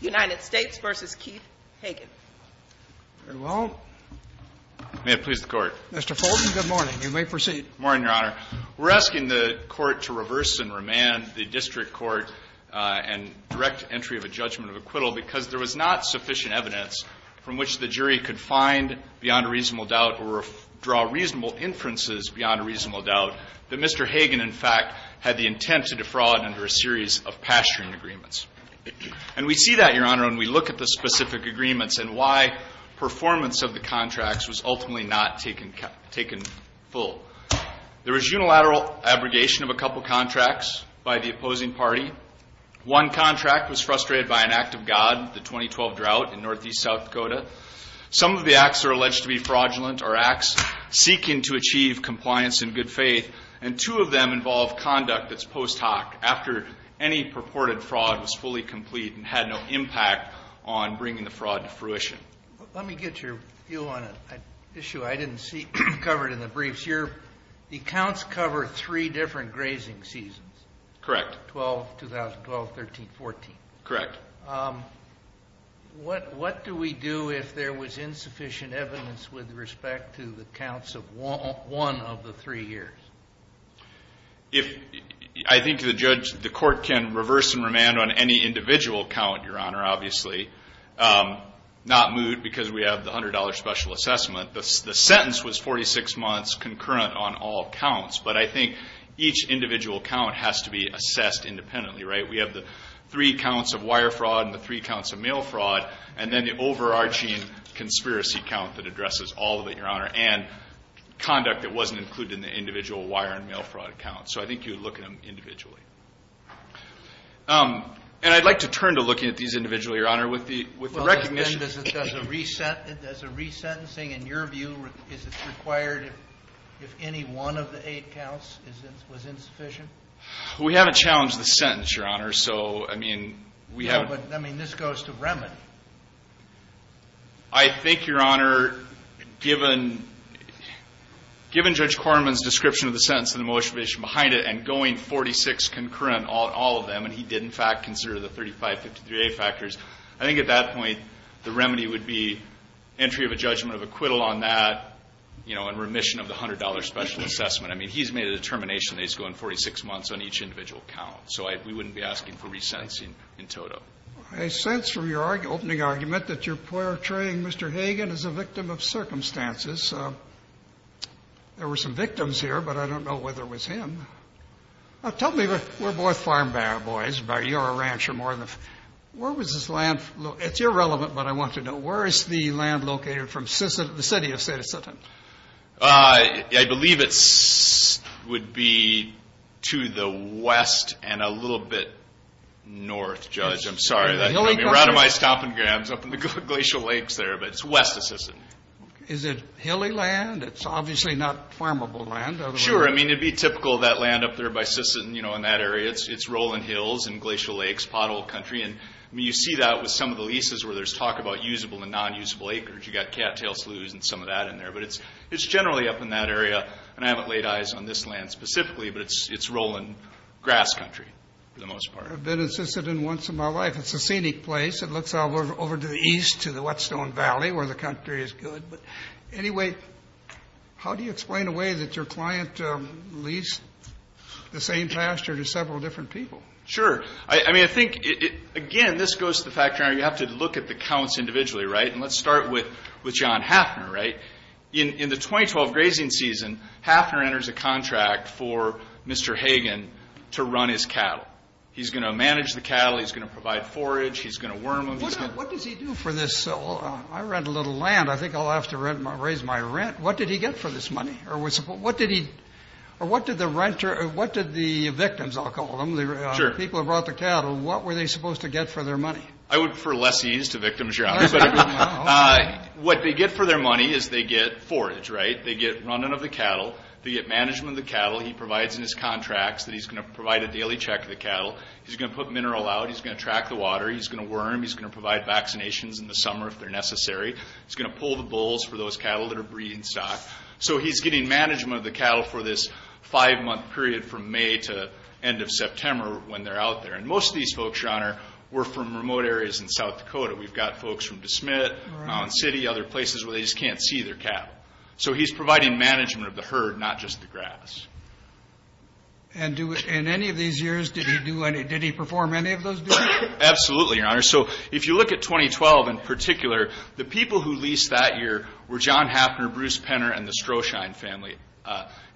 United States v. Keith Hagen. Very well. May it please the Court. Mr. Fulton, good morning. You may proceed. Good morning, Your Honor. We're asking the Court to reverse and remand the district court and direct entry of a judgment of acquittal because there was not sufficient evidence from which the jury could find beyond a reasonable doubt or draw reasonable inferences beyond a reasonable doubt that Mr. Hagen, in fact, had the intent to defraud under a series of pasturing agreements. And we see that, Your Honor, when we look at the specific agreements and why performance of the contracts was ultimately not taken full. There was unilateral abrogation of a couple contracts by the opposing party. One contract was frustrated by an act of God, the 2012 drought in northeast South Dakota. Some of the acts are alleged to be fraudulent or acts seeking to achieve compliance and good faith, and two of them involve conduct that's post hoc, after any purported fraud was fully complete and had no impact on bringing the fraud to fruition. Let me get your view on an issue I didn't see covered in the briefs. Your accounts cover three different grazing seasons. Correct. 12, 2012, 13, 14. Correct. What do we do if there was insufficient evidence with respect to the counts of one of the three years? I think the court can reverse and remand on any individual count, Your Honor, obviously. Not Moot, because we have the $100 special assessment. The sentence was 46 months concurrent on all counts. But I think each individual count has to be assessed independently, right? We have the three counts of wire fraud and the three counts of mail fraud, and conduct that wasn't included in the individual wire and mail fraud accounts. So I think you would look at them individually. And I'd like to turn to looking at these individually, Your Honor, with the recognition. Well, then does a resentencing, in your view, is it required if any one of the eight counts was insufficient? We haven't challenged the sentence, Your Honor, so I mean, we have. I mean, this goes to remedy. I think, Your Honor, given Judge Corman's description of the sentence and the motivation behind it, and going 46 concurrent on all of them, and he did, in fact, consider the 3553A factors, I think at that point the remedy would be entry of a judgment of acquittal on that, you know, and remission of the $100 special assessment. I mean, he's made a determination that he's going 46 months on each individual count, so we wouldn't be asking for resentencing in total. I sense from your opening argument that you're portraying Mr. Hagan as a victim of circumstances. There were some victims here, but I don't know whether it was him. Tell me, we're both farm boys, but you're a rancher more than a farm boy. Where was this land located? It's irrelevant, but I want to know. Where is the land located from the city of Sisseton? I'm sorry, that would be right on my stomping grounds up in the Glacial Lakes there, but it's west of Sisseton. Is it hilly land? It's obviously not farmable land. Sure. I mean, it'd be typical of that land up there by Sisseton, you know, in that area, it's rolling hills and glacial lakes, potholed country, and you see that with some of the leases where there's talk about usable and non-usable acres, you've got cattail sloughs and some of that in there, but it's generally up in that area, and I haven't laid eyes on this land specifically, but it's rolling grass country for the most part. I've been in Sisseton once in my life. It's a scenic place. It looks out over to the east to the Whetstone Valley where the country is good. But anyway, how do you explain a way that your client leased the same pasture to several different people? Sure. I mean, I think, again, this goes to the fact you have to look at the counts individually, right? And let's start with John Hafner, right? In the 2012 grazing season, Hafner enters a contract for Mr. Hagen to run his cattle. He's going to manage the cattle. He's going to provide forage. He's going to worm them. What does he do for this? I rent a little land. I think I'll have to raise my rent. What did he get for this money? Or what did the victims, I'll call them, the people who brought the cattle, what were they supposed to get for their money? I would refer lessees to victims, yeah. What they get for their money is they get forage, right? They get running of the cattle. They get management of the cattle. He provides in his contracts that he's going to provide a daily check of the cattle. He's going to put mineral out. He's going to track the water. He's going to worm. He's going to provide vaccinations in the summer if they're necessary. He's going to pull the bulls for those cattle that are breeding stock. So he's getting management of the cattle for this five-month period from May to end of September when they're out there. And most of these folks, Your Honor, were from remote areas in South Dakota. We've got folks from De Smet, Mount City, other places where they just can't see their cattle. So he's providing management of the herd, not just the grass. And in any of these years, did he perform any of those duties? Absolutely, Your Honor. So if you look at 2012 in particular, the people who leased that year were John Hafner, Bruce Penner, and the Strohschein family,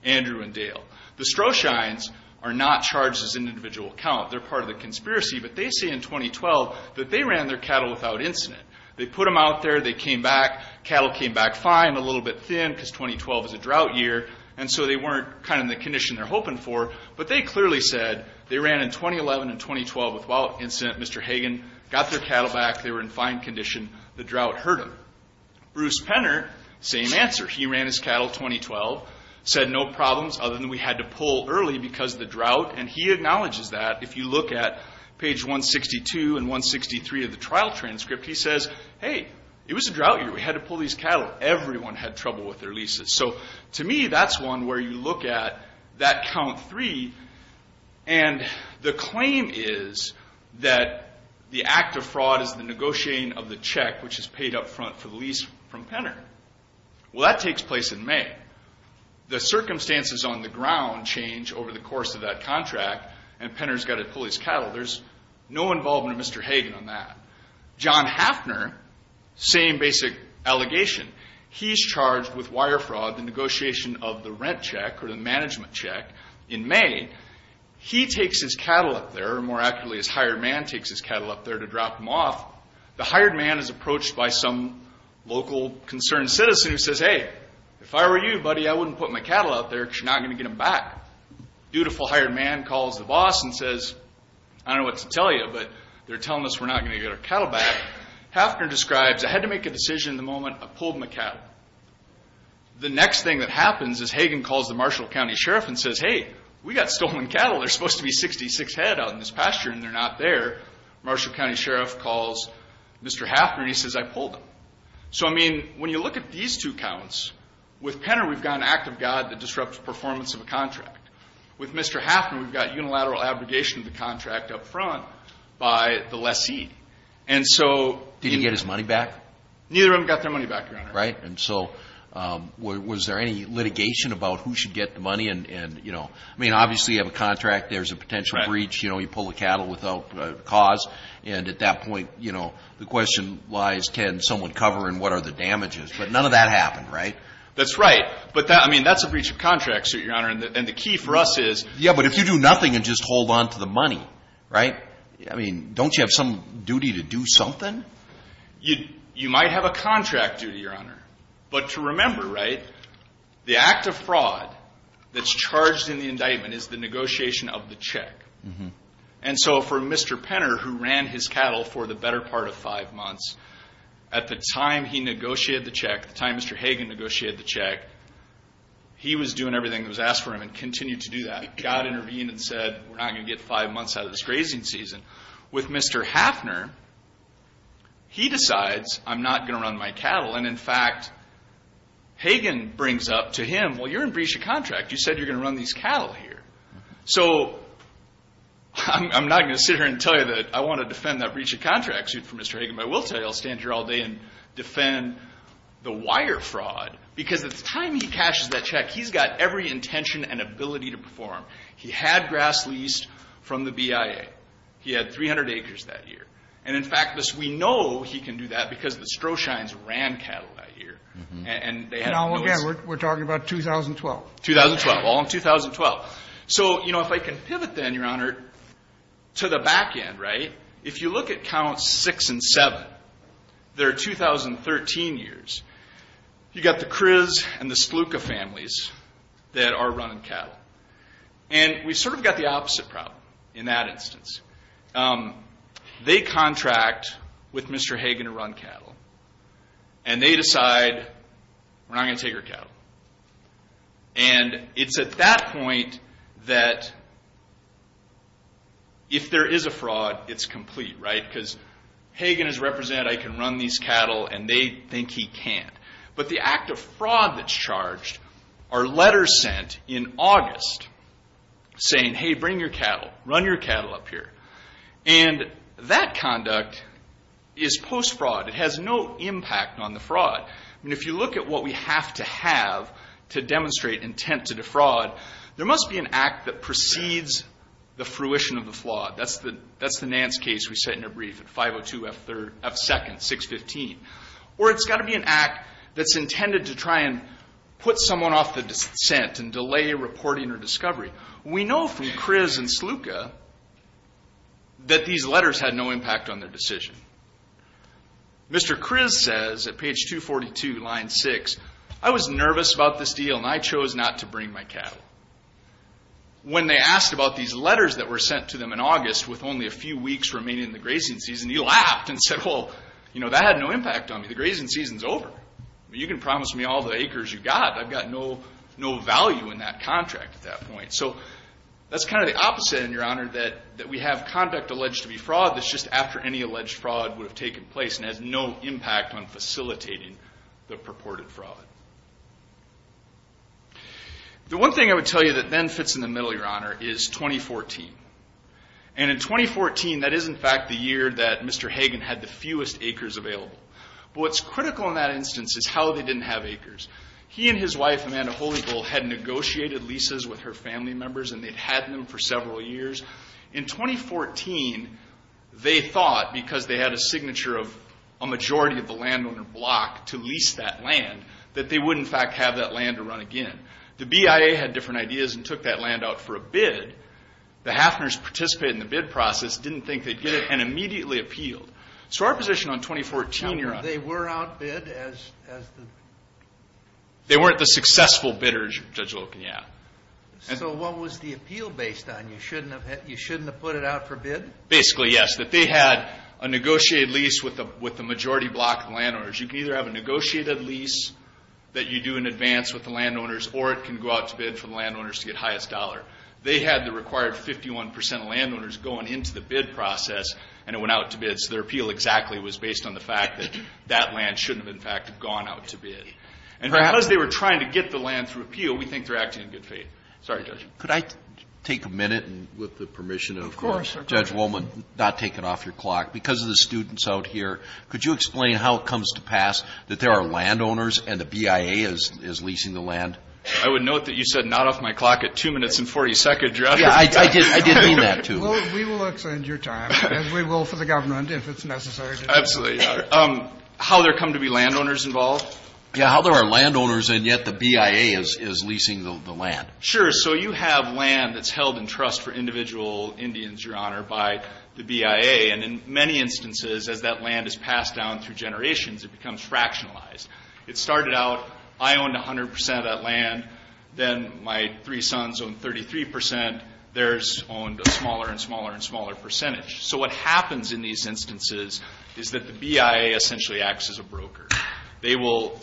Andrew and Dale. The Strohscheins are not charged as an individual account. They're part of the conspiracy. But they say in 2012 that they ran their cattle without incident. They put them out there. They came back. Cattle came back fine, a little bit thin because 2012 is a drought year. And so they weren't kind of in the condition they're hoping for. But they clearly said they ran in 2011 and 2012 without incident. Mr. Hagen got their cattle back. They were in fine condition. The drought hurt them. Bruce Penner, same answer. He ran his cattle 2012, said no problems other than we had to pull early because of the drought. And he acknowledges that. If you look at page 162 and 163 of the trial transcript, he says, hey, it was a drought year. We had to pull these cattle. Everyone had trouble with their leases. So to me, that's one where you look at that count three. And the claim is that the act of fraud is the negotiating of the check, which is paid up front for the lease from Penner. Well, that takes place in May. The circumstances on the ground change over the course of that contract. And Penner's got to pull his cattle. There's no involvement of Mr. Hagen on that. John Hafner, same basic allegation. He's charged with wire fraud, the negotiation of the rent check, or the management check, in May. He takes his cattle up there, or more accurately, his hired man takes his cattle up there to drop them off. The hired man is approached by some local concerned citizen who says, hey, if I were you, buddy, I wouldn't put my cattle out there because you're not going to get them back. Dutiful hired man calls the boss and says, I don't know what to tell you, but they're telling us we're not going to get our cattle back. Hafner describes, I had to make a decision the moment I pulled my cattle. The next thing that happens is Hagen calls the Marshall County Sheriff and says, hey, we got stolen cattle. They're supposed to be 66 head out in this pasture, and they're not there. Marshall County Sheriff calls Mr. Hafner, and he says, I pulled them. So I mean, when you look at these two counts, with Penner, we've got an act of God that disrupts performance of a contract. With Mr. Hafner, we've got unilateral abrogation of the contract up front by the lessee. And so, Did he get his money back? Neither of them got their money back, Your Honor. Right. And so, was there any litigation about who should get the money? And, you know, I mean, obviously, you have a contract. There's a potential breach. You know, you pull the cattle without cause. And at that point, you know, the question lies, can someone cover, and what are the damages? But none of that happened, right? That's right. But that, I mean, that's a breach of contract, sir, Your Honor. And the key for us is, Yeah, but if you do nothing and just hold onto the money, right? I mean, don't you have some duty to do something? You might have a contract duty, Your Honor. But to remember, right, the act of fraud that's charged in the indictment is the negotiation of the check. And so, for Mr. Penner, who ran his cattle for the better part of five months, at the time he negotiated the check, the time Mr. Hagen negotiated the check, he was doing everything that was asked for him and continued to do that. God intervened and said, we're not going to get five months out of this grazing season. With Mr. Hafner, he decides, I'm not going to run my cattle. And in fact, Hagen brings up to him, well, you're in breach of contract. You said you're going to run these cattle here. So I'm not going to sit here and tell you that I want to defend that breach of contract suit for Mr. Hagen. But I will tell you, I'll stand here all day and defend the wire fraud. Because at the time he cashes that check, he's got every intention and ability to perform. He had grass leased from the BIA. He had 300 acres that year. And in fact, we know he can do that, because the Stroscheins ran cattle that year. And they had those. And all again, we're talking about 2012. 2012, all in 2012. So if I can pivot then, Your Honor, to the back end. If you look at counts 6 and 7, they're 2013 years. You've got the Kriz and the Stluka families that are running cattle. And we've sort of got the opposite problem in that instance. They contract with Mr. Hagen to run cattle. And they decide, we're not going to take your cattle. And it's at that point that, if there is a fraud, it's complete, right? Because Hagen has represented, I can run these cattle. And they think he can't. But the act of fraud that's charged are letters sent in August saying, hey, bring your cattle. Run your cattle up here. And that conduct is post-fraud. It has no impact on the fraud. And if you look at what we have to have to demonstrate intent to defraud, there must be an act that precedes the fruition of the fraud. That's the Nance case we set in a brief at 502 F-2nd, 615. Or it's got to be an act that's intended to try and put someone off the descent and delay reporting or discovery. We know from Kriz and Stluka that these letters had no impact on their decision. Mr. Kriz says at page 242, line 6, I was nervous about this deal. And I chose not to bring my cattle. When they asked about these letters that were sent to them in August with only a few weeks remaining in the grazing season, he laughed and said, well, that had no impact on me. The grazing season's over. You can promise me all the acres you got. I've got no value in that contract at that point. So that's kind of the opposite, Your Honor, that we have conduct alleged to be fraud that's just after any alleged fraud would have taken place and has no impact on facilitating the purported fraud. The one thing I would tell you that then fits in the middle, Your Honor, is 2014. And in 2014, that is, in fact, the year that Mr. Hagen had the fewest acres available. But what's critical in that instance is how they didn't have acres. He and his wife, Amanda Holyville, had negotiated leases with her family members. And they'd had them for several years. In 2014, they thought, because they had a signature of a majority of the landowner block to lease that land, that they would, in fact, have that land to run again. The BIA had different ideas and took that land out for a bid. The Hafners participated in the bid process, didn't think they'd get it, and immediately appealed. So our position on 2014, Your Honor. Now, were they were outbid as the? They weren't the successful bidders, Judge Locan, yeah. So what was the appeal based on? You shouldn't have put it out for bid? Basically, yes. That they had a negotiated lease with the majority block of landowners. You can either have a negotiated lease that you do in advance with the landowners, or it can go out to bid for the landowners to get highest dollar. They had the required 51% of landowners going into the bid process, and it went out to bid. So their appeal exactly was based on the fact that that land shouldn't have, in fact, gone out to bid. And because they were trying to get the land through appeal, we think they're acting in good faith. Sorry, Judge. Could I take a minute, and with the permission of Judge Wohlman, not take it off your clock. Because of the students out here, could you explain how it comes to pass that there are landowners and the BIA is leasing the land? I would note that you said not off my clock at two minutes and 40 seconds, Your Honor. Yeah, I did mean that, too. We will extend your time, and we will for the government if it's necessary. Absolutely, Your Honor. How there come to be landowners involved? Yeah, how there are landowners, and yet the BIA is leasing the land. Sure, so you have land that's held in trust for individual Indians, Your Honor, by the BIA. And in many instances, as that land is passed down through generations, it becomes fractionalized. It started out, I owned 100% of that land. Then my three sons owned 33%. Theirs owned a smaller and smaller and smaller percentage. So what happens in these instances is that the BIA essentially acts as a broker. They will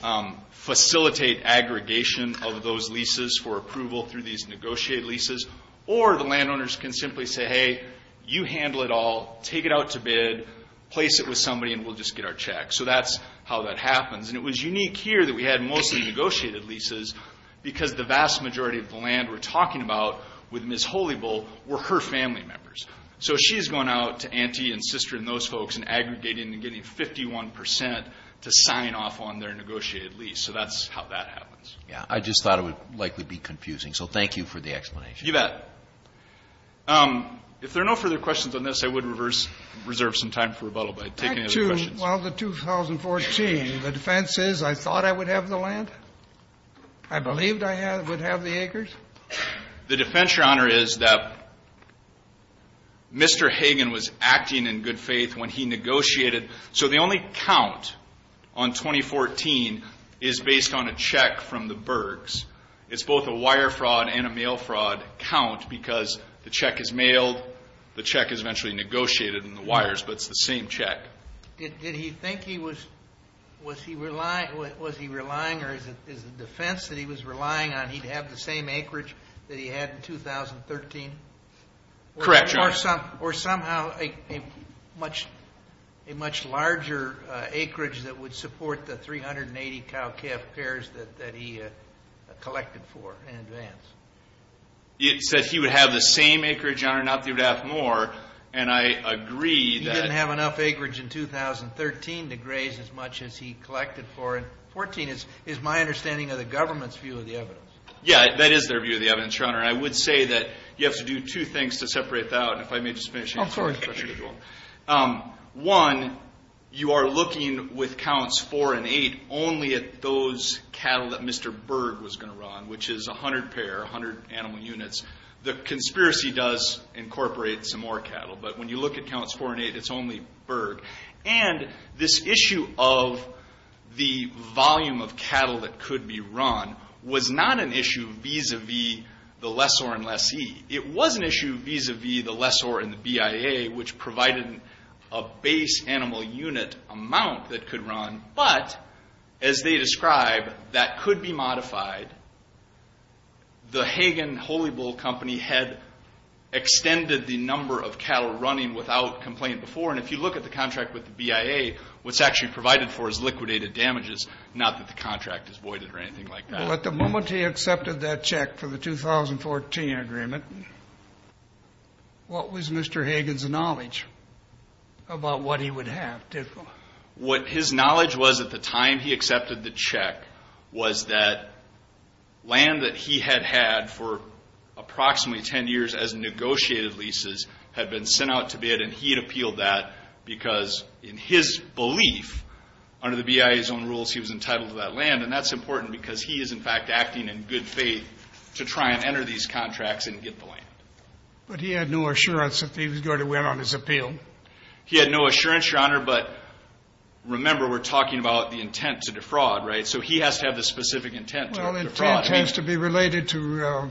facilitate aggregation of those leases for approval through these negotiated leases. Or the landowners can simply say, hey, you handle it all. Take it out to bid. Place it with somebody, and we'll just get our check. So that's how that happens. And it was unique here that we had mostly negotiated leases because the vast majority of the land we're talking about with Ms. Holybull were her family members. So she's going out to Auntie and Sister and those folks and aggregating and getting 51% to sign off on their negotiated lease. So that's how that happens. Yeah, I just thought it would likely be confusing. So thank you for the explanation. You bet. If there are no further questions on this, I would reserve some time for rebuttal by taking any other questions. Back to, well, the 2014. The defense is I thought I would have the land? I believed I would have the acres? The defense, Your Honor, is that Mr. Hagan was acting in good faith when he negotiated. So the only count on 2014 is based on a check from the Bergs. It's both a wire fraud and a mail fraud count because the check is mailed, the check is eventually negotiated in the wires, but it's the same check. Did he think he was, was he relying, or is it the defense that he was relying on, he'd have the same acreage that he had in 2013? Correct, Your Honor. Or somehow a much larger acreage that would support the 380 cow-calf pairs that he collected for in advance? It said he would have the same acreage, Your Honor, not that he would have more. And I agree that. He didn't have enough acreage in 2013 to graze as much as he collected for in 14, is my understanding of the government's view of the evidence. Yeah, that is their view of the evidence, Your Honor. I would say that you have to do two things to separate that out, if I may just finish. I'm sorry. One, you are looking with counts four and eight only at those cattle that Mr. Berg was going to run, which is 100 pair, 100 animal units. The conspiracy does incorporate some more cattle, but when you look at counts four and eight, it's only Berg. And this issue of the volume of cattle that could be run was not an issue vis-a-vis the lessor and lessee. It was an issue vis-a-vis the lessor and the BIA, which provided a base animal unit amount that could run. But as they describe, that could be modified. The Hagen Holy Bull Company had extended the number of cattle running without complaint before. And if you look at the contract with the BIA, what's actually provided for is liquidated damages, not that the contract is voided or anything like that. Well, at the moment he accepted that check for the 2014 agreement, what was Mr. Hagen's knowledge about what he would have? What his knowledge was at the time he accepted the check was that land that he had had for approximately 10 years as negotiated leases had been sent out to bid, and he had appealed that because in his belief, under the BIA's own rules, he was entitled to that land. And that's important because he is, in fact, acting in good faith to try and enter these contracts and get the land. But he had no assurance that he was going to win on his appeal. He had no assurance, Your Honor, but remember, we're talking about the intent to defraud, right? So he has to have the specific intent to defraud. Well, intent has to be related to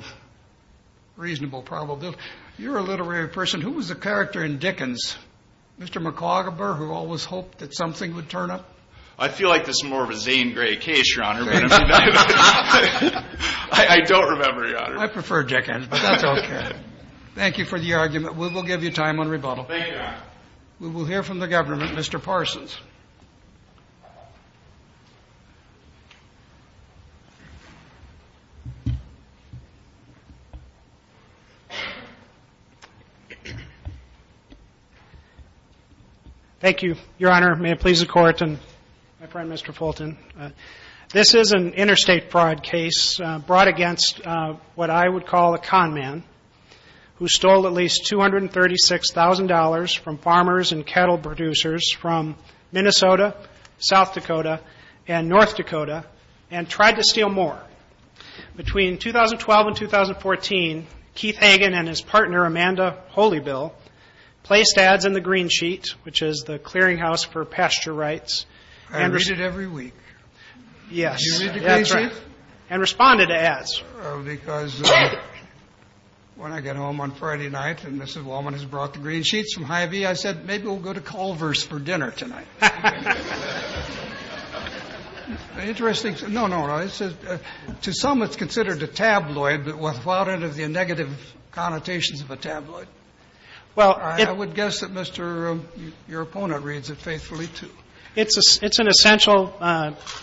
reasonable probability. You're a literary person. Who was the character in Dickens? Mr. McAuguber, who always hoped that something would turn up? I feel like this is more of a Zane Gray case, Your Honor. I don't remember, Your Honor. I prefer Dickens, but that's OK. Thank you for the argument. We will give you time on rebuttal. Thank you, Your Honor. We will hear from the government, Mr. Parsons. Thank you, Your Honor. May it please the Court and my friend, Mr. Fulton. This is an interstate fraud case brought against what I would call a con man who stole at least $236,000 from farmers and cattle producers from Minnesota, South Dakota, and North Dakota, and tried to steal more. He was able to steal more than $1,000,000. Between 2012 and 2014, Keith Hagen and his partner, Amanda Holybill, placed ads in the Green Sheet, which is the clearinghouse for pasture rights. I read it every week. Yes. You read the Green Sheet? And responded to ads. Because when I got home on Friday night and Mrs. Wallman has brought the Green Sheets from Hy-Vee, I said, maybe we'll go to Culver's for dinner tonight. Interesting. No, no, no. To some, it's considered a tabloid, but what about the negative connotations of a tabloid? Well, I would guess that your opponent reads it faithfully, too. It's an essential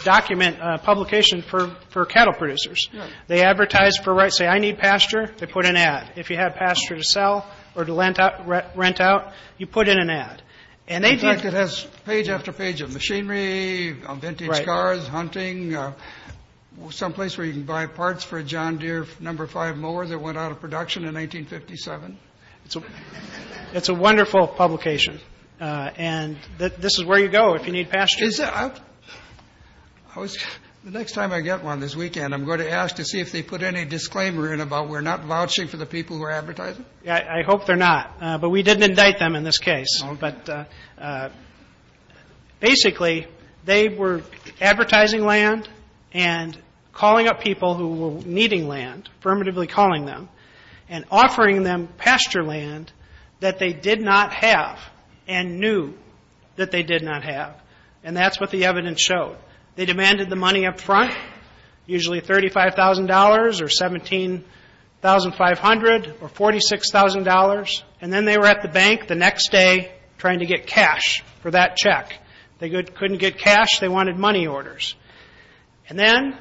document publication for cattle producers. They advertise for rights. Say, I need pasture. They put an ad. If you have pasture to sell or to rent out, you put in an ad. And they do. It has page after page of machinery, vintage cars, hunting, someplace where you can buy parts for a John Deere number five mower that went out of production in 1957. It's a wonderful publication. And this is where you go if you need pasture. Is it? The next time I get one this weekend, I'm going to ask to see if they put any disclaimer in about we're not vouching for the people who are advertising? I hope they're not. But we didn't indict them in this case. But basically, they were advertising land and calling up people who were needing land, affirmatively calling them, and offering them pasture land that they did not have and knew that they did not have. And that's what the evidence showed. They demanded the money up front, usually $35,000 or $17,500 or $46,000. And then they were at the bank the next day trying to get cash for that check. They couldn't get cash. They wanted money orders. And then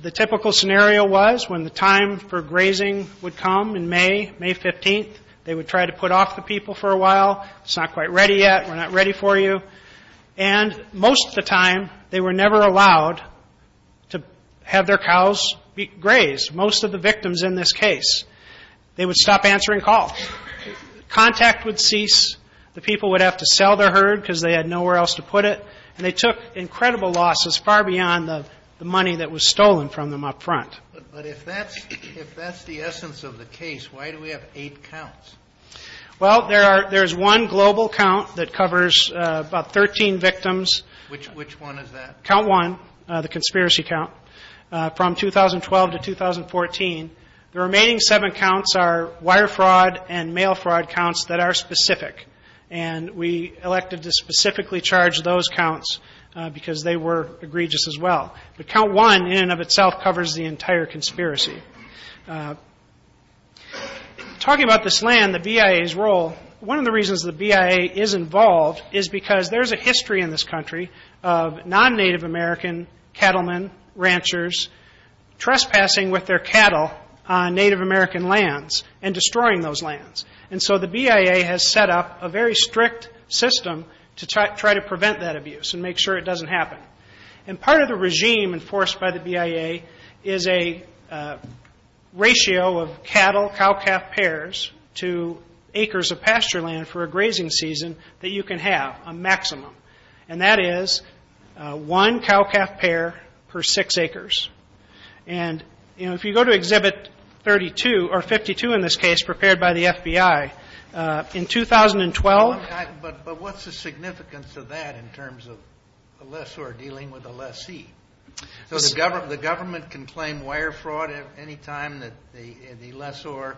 the typical scenario was when the time for grazing would come in May, May 15, they would try to put off the people for a while. It's not quite ready yet. We're not ready for you. And most of the time, they were never allowed to have their cows grazed. Most of the victims in this case, they would stop answering calls. Contact would cease. The people would have to sell their herd because they had nowhere else to put it. And they took incredible losses far beyond the money that was stolen from them up front. But if that's the essence of the case, why do we have eight counts? Well, there's one global count that covers about 13 victims. Which one is that? Count one, the conspiracy count. From 2012 to 2014, the remaining seven counts are wire fraud and mail fraud counts that are specific. And we elected to specifically charge those counts because they were egregious as well. But count one in and of itself covers the entire conspiracy. Talking about this land, the BIA's role, one of the reasons the BIA is involved is because there's a history in this country of non-Native American cattlemen, ranchers, trespassing with their cattle on Native American lands and destroying those lands. And so the BIA has set up a very strict system to try to prevent that abuse and make sure it doesn't happen. And part of the regime enforced by the BIA is a ratio of cattle, cow-calf pairs to acres of pasture land for a grazing season that you can have a maximum. And that is one cow-calf pair per six acres. And if you go to Exhibit 32, or 52 in this case, prepared by the FBI, in 2012- But what's the significance of that in terms of a lessor dealing with a lessee? So the government can claim wire fraud any time that the lessor,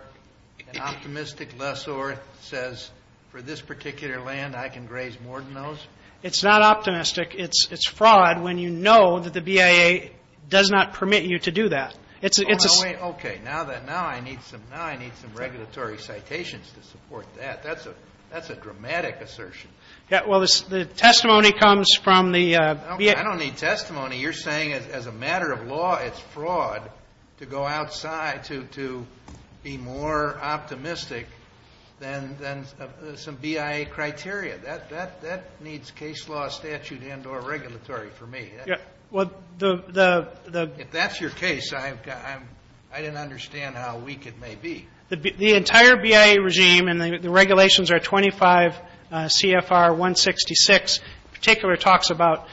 an optimistic lessor, says, for this particular land, I can graze more than those? It's not optimistic. It's fraud when you know that the BIA does not permit you to do that. It's a- Okay, now I need some regulatory citations to support that. That's a dramatic assertion. Yeah, well, the testimony comes from the- Okay, I don't need testimony. You're saying as a matter of law, it's fraud to go outside to be more optimistic than some BIA criteria. That needs case law statute and or regulatory for me. Yeah, well, the- If that's your case, I didn't understand how weak it may be. The entire BIA regime, and the regulations are 25 CFR 166, in particular talks about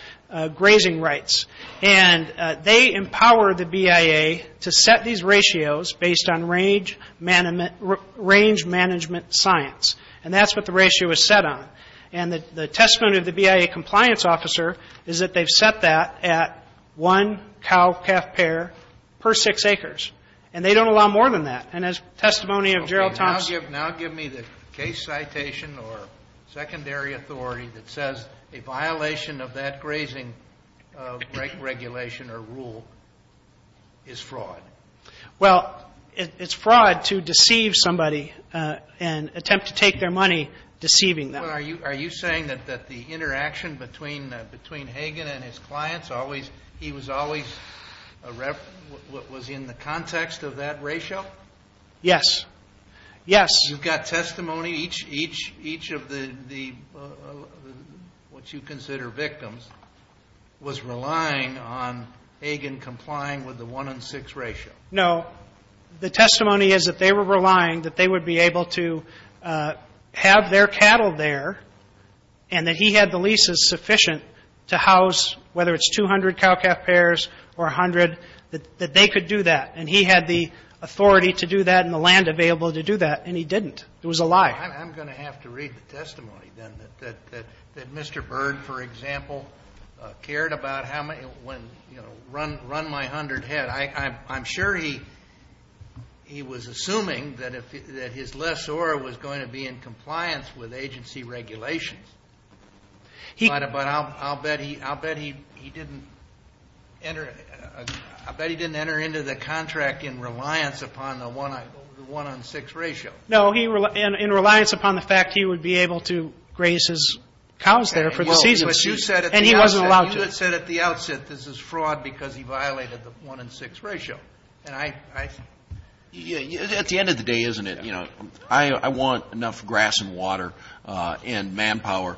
grazing rights. And they empower the BIA to set these ratios based on range management science. And that's what the ratio is set on. And the testimony of the BIA compliance officer is that they've set that at one cow-calf pair per six acres. And they don't allow more than that. And as testimony of Gerald Thompson- Now, give me the case citation or secondary authority that says a violation of that grazing regulation or rule is fraud. Well, it's fraud to deceive somebody and attempt to take their money deceiving them. Are you saying that the interaction between Hagan and his clients always- He was always a- was in the context of that ratio? Yes. Yes. You've got testimony each of the, what you consider victims, was relying on Hagan complying with the one and six ratio? No. The testimony is that they were relying that they would be able to have their cattle there and that he had the leases sufficient to house, whether it's 200 cow-calf pairs or 100, that they could do that. And he had the authority to do that and the land available to do that. And he didn't. It was a lie. I'm going to have to read the testimony, then, that Mr. Bird, for example, cared about how many, you know, run my 100 head. I'm sure he was assuming that his lessor was going to be in compliance with agency regulations. But I'll bet he didn't enter into the contract in reliance upon the one and six ratio. No, in reliance upon the fact he would be able to graze his cows there for the season. And he wasn't allowed to. You had said at the outset this is fraud because he violated the one and six ratio. And I- At the end of the day, isn't it, you know, I want enough grass and water and manpower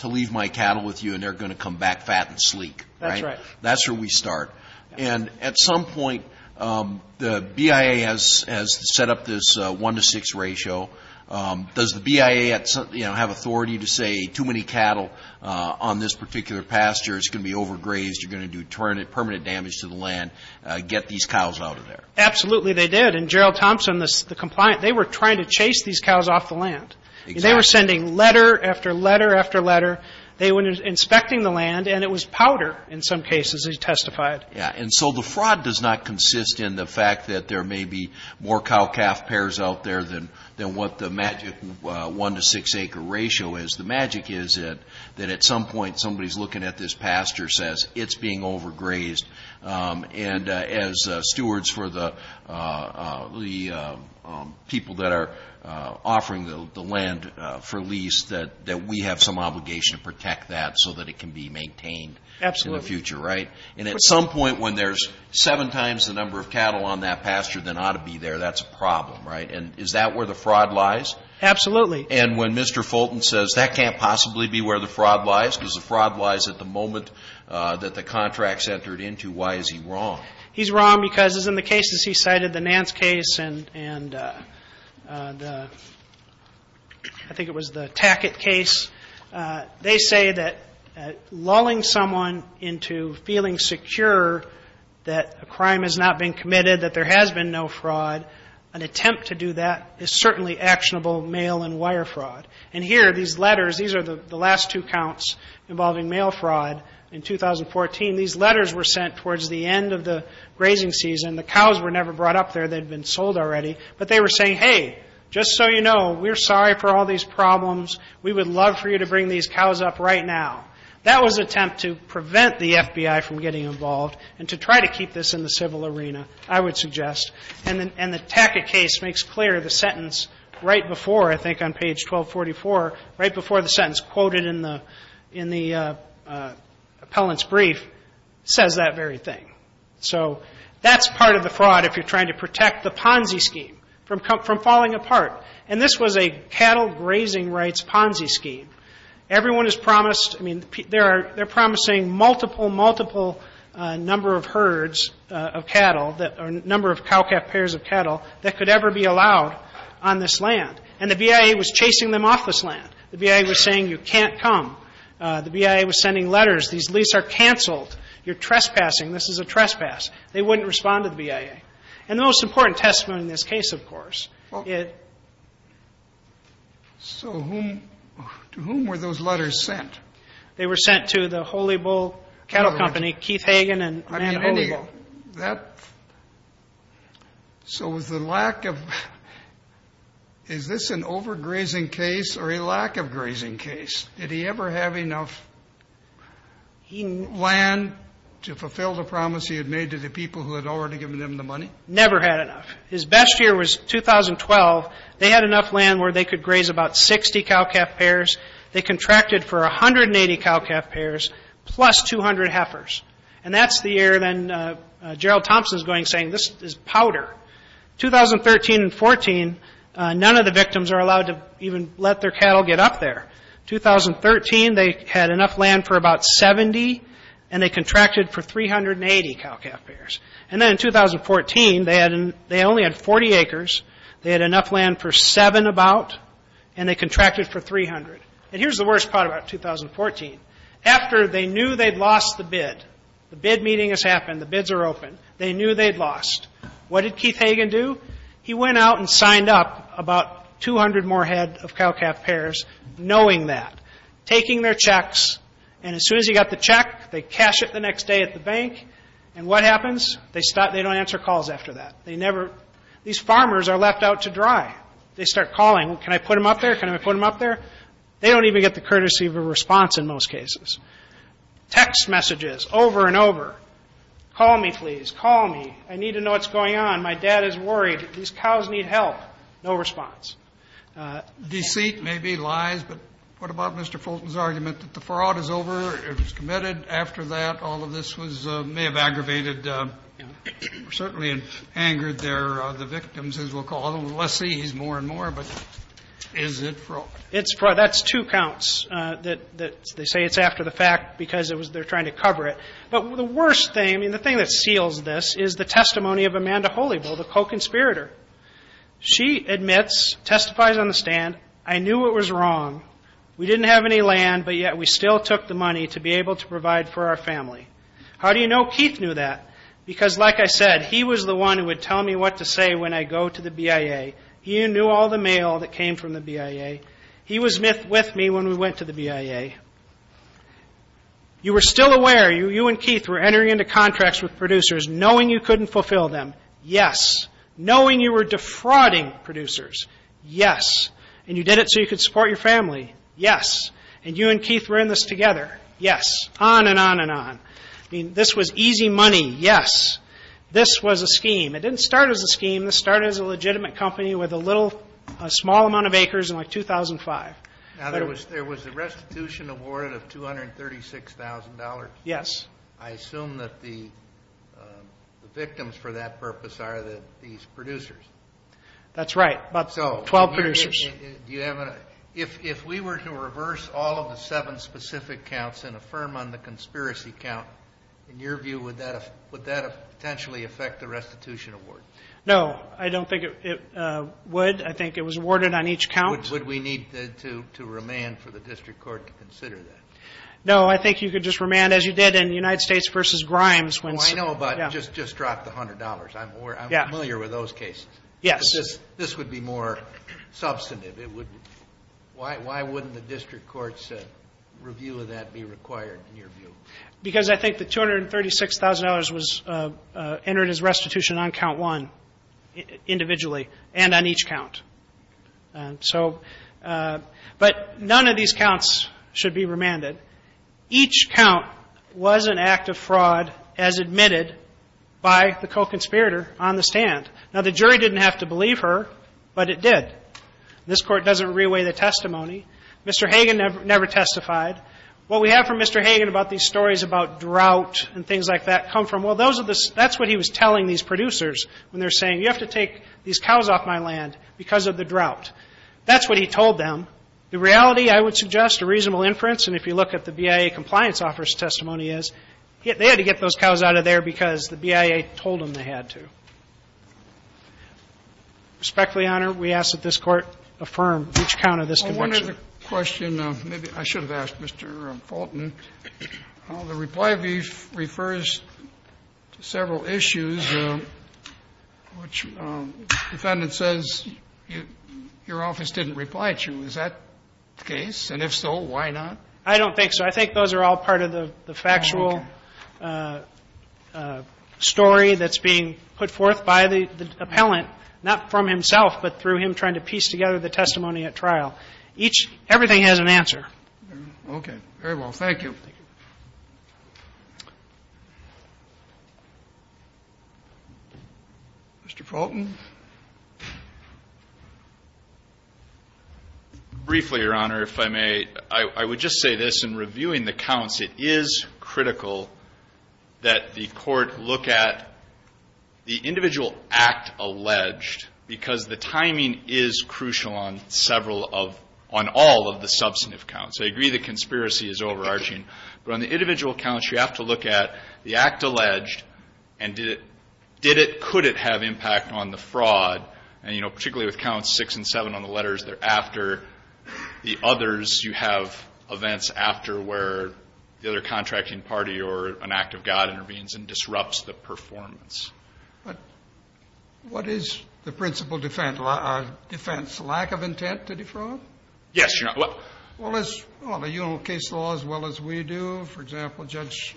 to leave my cattle with you and they're going to come back fat and sleek. That's right. That's where we start. And at some point, the BIA has set up this one to six ratio. Does the BIA, you know, have authority to say too many cattle on this particular pasture, it's going to be overgrazed, you're going to do permanent damage to the land, get these cows out of there? Absolutely they did. And Gerald Thompson, the compliant, they were trying to chase these cows off the land. They were sending letter after letter after letter. They were inspecting the land and it was powder in some cases, he testified. Yeah, and so the fraud does not consist in the fact that there may be more cow-calf pairs out there than what the magic one to six acre ratio is. The magic is that at some point somebody's looking at this pasture says it's being overgrazed. And as stewards for the people that are offering the land for lease, that we have some obligation to protect that so that it can be maintained in the future, right? And at some point when there's seven times the number of cattle on that pasture than ought to be there, that's a problem, right? And is that where the fraud lies? Absolutely. And when Mr. Fulton says that can't possibly be where the fraud lies because the fraud lies at the moment that the contract's entered into, why is he wrong? He's wrong because in the cases he cited, the Nance case and I think it was the Tackett case, they say that lulling someone into feeling secure that a crime has not been committed, that there has been no fraud, an attempt to do that is certainly actionable mail and wire fraud. And here, these letters, these are the last two counts involving mail fraud in 2014. These letters were sent towards the end of the grazing season. The cows were never brought up there. They'd been sold already. But they were saying, hey, just so you know, we're sorry for all these problems. We would love for you to bring these cows up right now. That was an attempt to prevent the FBI from getting involved and to try to keep this in the civil arena, I would suggest. And the Tackett case makes clear the sentence right before, I think on page 1244, right before the sentence quoted in the appellant's brief, says that very thing. So that's part of the fraud if you're trying to protect the Ponzi scheme from falling apart. And this was a cattle grazing rights Ponzi scheme. Everyone is promised, I mean, they're promising multiple, multiple number of herds of cattle or number of cow-calf pairs of cattle that could ever be allowed on this land. And the BIA was chasing them off this land. The BIA was saying, you can't come. The BIA was sending letters. These lease are canceled. You're trespassing. This is a trespass. They wouldn't respond to the BIA. And the most important testimony in this case, of course, it So whom, to whom were those letters sent? They were sent to the Holy Bull Cattle Company, Keith Hagen and Matt Holy Bull. That, so was the lack of, is this an overgrazing case or a lack of grazing case? Did he ever have enough land to fulfill the promise he had made to the people who had already given him the money? Never had enough. His best year was 2012. They had enough land where they could graze about 60 cow-calf pairs. They contracted for 180 cow-calf pairs plus 200 heifers. And that's the year, then, Gerald Thompson's going saying, this is powder. 2013 and 14, none of the victims are allowed to even let their cattle get up there. 2013, they had enough land for about 70, and they contracted for 380 cow-calf pairs. And then in 2014, they only had 40 acres. They had enough land for seven about, and they contracted for 300. And here's the worst part about 2014. After they knew they'd lost the bid, the bid meeting has happened, the bids are open, they knew they'd lost. What did Keith Hagen do? He went out and signed up about 200 more head of cow-calf pairs knowing that, taking their checks. And as soon as he got the check, they cash it the next day at the bank. And what happens? They stop, they don't answer calls after that. They never, these farmers are left out to dry. They start calling, can I put them up there? Can I put them up there? They don't even get the courtesy of a response in most cases. Text messages over and over. Call me, please, call me. I need to know what's going on. My dad is worried. These cows need help. No response. Deceit, maybe, lies, but what about Mr. Fulton's argument that the fraud is over, it was committed? After that, all of this was, may have aggravated, certainly angered their, the victims, as we'll call them. Let's see, he's more and more, but is it fraud? It's fraud, that's two counts that they say it's after the fact because it was, they're trying to cover it. But the worst thing, and the thing that seals this, is the testimony of Amanda Holybull, the co-conspirator. She admits, testifies on the stand, I knew it was wrong. We didn't have any land, but yet we still took the money to be able to provide for our family. How do you know Keith knew that? Because like I said, he was the one who would tell me what to say when I go to the BIA. He knew all the mail that came from the BIA. He was with me when we went to the BIA. You were still aware, you and Keith were entering into contracts with producers, knowing you couldn't fulfill them, yes. Knowing you were defrauding producers, yes. And you did it so you could support your family, yes. And you and Keith were in this together, yes, on and on and on. This was easy money, yes. This was a scheme. It didn't start as a scheme. This started as a legitimate company with a little, a small amount of acres in like 2005. Now, there was a restitution awarded of $236,000. Yes. I assume that the victims for that purpose are these producers. That's right, about 12 producers. If we were to reverse all of the seven specific counts and affirm on the conspiracy count, in your view, would that potentially affect the restitution award? No, I don't think it would. I think it was awarded on each count. Would we need to remand for the district court to consider that? No, I think you could just remand as you did in United States v. Grimes. Oh, I know, but just drop the $100. I'm familiar with those cases. Yes. This would be more substantive. Why wouldn't the district court's review of that be required, in your view? Because I think the $236,000 was entered as restitution on count one individually and on each count. And so, but none of these counts should be remanded. Each count was an act of fraud as admitted by the co-conspirator on the stand. Now, the jury didn't have to believe her, but it did. This court doesn't reweigh the testimony. Mr. Hagan never testified. What we have from Mr. Hagan about these stories about drought and things like that come from, well, those are the, that's what he was telling these producers when they're saying, you have to take these cows off my land because of the drought. That's what he told them. The reality, I would suggest, a reasonable inference, and if you look at the BIA compliance officer's testimony is, they had to get those cows out of there because the BIA told them they had to. Respectfully, Your Honor, we ask that this court affirm each count of this conviction. The question, maybe I should have asked Mr. Fulton, the reply refers to several issues which the defendant says your office didn't reply to. Is that the case? And if so, why not? I don't think so. I think those are all part of the factual story that's being put forth by the appellant. Not from himself, but through him trying to piece together the testimony at trial. Each, everything has an answer. Okay. Very well. Thank you. Mr. Fulton? Briefly, Your Honor, if I may, I would just say this. In reviewing the counts, it is critical that the court look at the individual act alleged because the timing is crucial on several of them. On all of the substantive counts. I agree the conspiracy is overarching, but on the individual counts, you have to look at the act alleged and did it, could it have impact on the fraud? And, you know, particularly with counts six and seven on the letters, they're after the others. You have events after where the other contracting party or an act of God intervenes and disrupts the performance. But what is the principal defense? Lack of intent to defraud? Yes, Your Honor. Well, as the case law, as well as we do, for example, Judge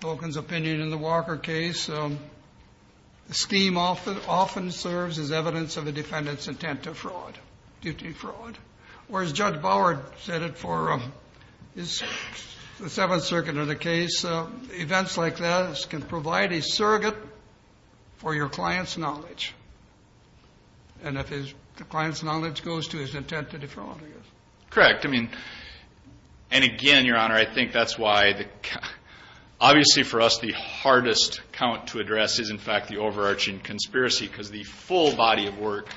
Tolkien's opinion in the Walker case, the scheme often serves as evidence of a defendant's intent to defraud. Whereas Judge Bower said it for the Seventh Circuit in the case, events like that can provide a surrogate for your client's knowledge. And if the client's knowledge goes to his intent to defraud, I guess. Correct. I mean, and again, Your Honor, I think that's why, obviously for us, the hardest count to address is, in fact, the overarching conspiracy. Because the full body of work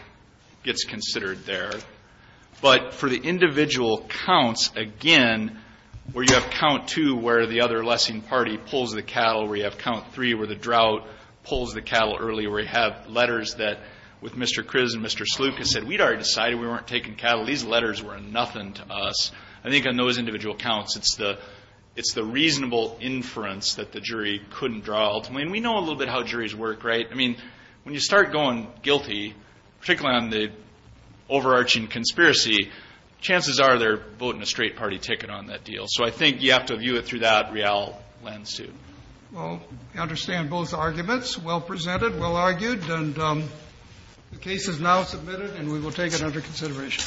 gets considered there. But for the individual counts, again, where you have count two where the other lessing party pulls the cattle, where you have count three where the drought pulls the cattle early, where you have letters that with Mr. Kriz and Mr. Sluka said, we'd already decided we weren't taking cattle. These letters were nothing to us. I think on those individual counts, it's the reasonable inference that the jury couldn't draw ultimately. And we know a little bit how juries work, right? I mean, when you start going guilty, particularly on the overarching conspiracy, chances are they're voting a straight party ticket on that deal. So I think you have to view it through that real lens, too. Well, I understand both arguments. Well presented, well argued, and the case is now submitted, and we will take it under consideration.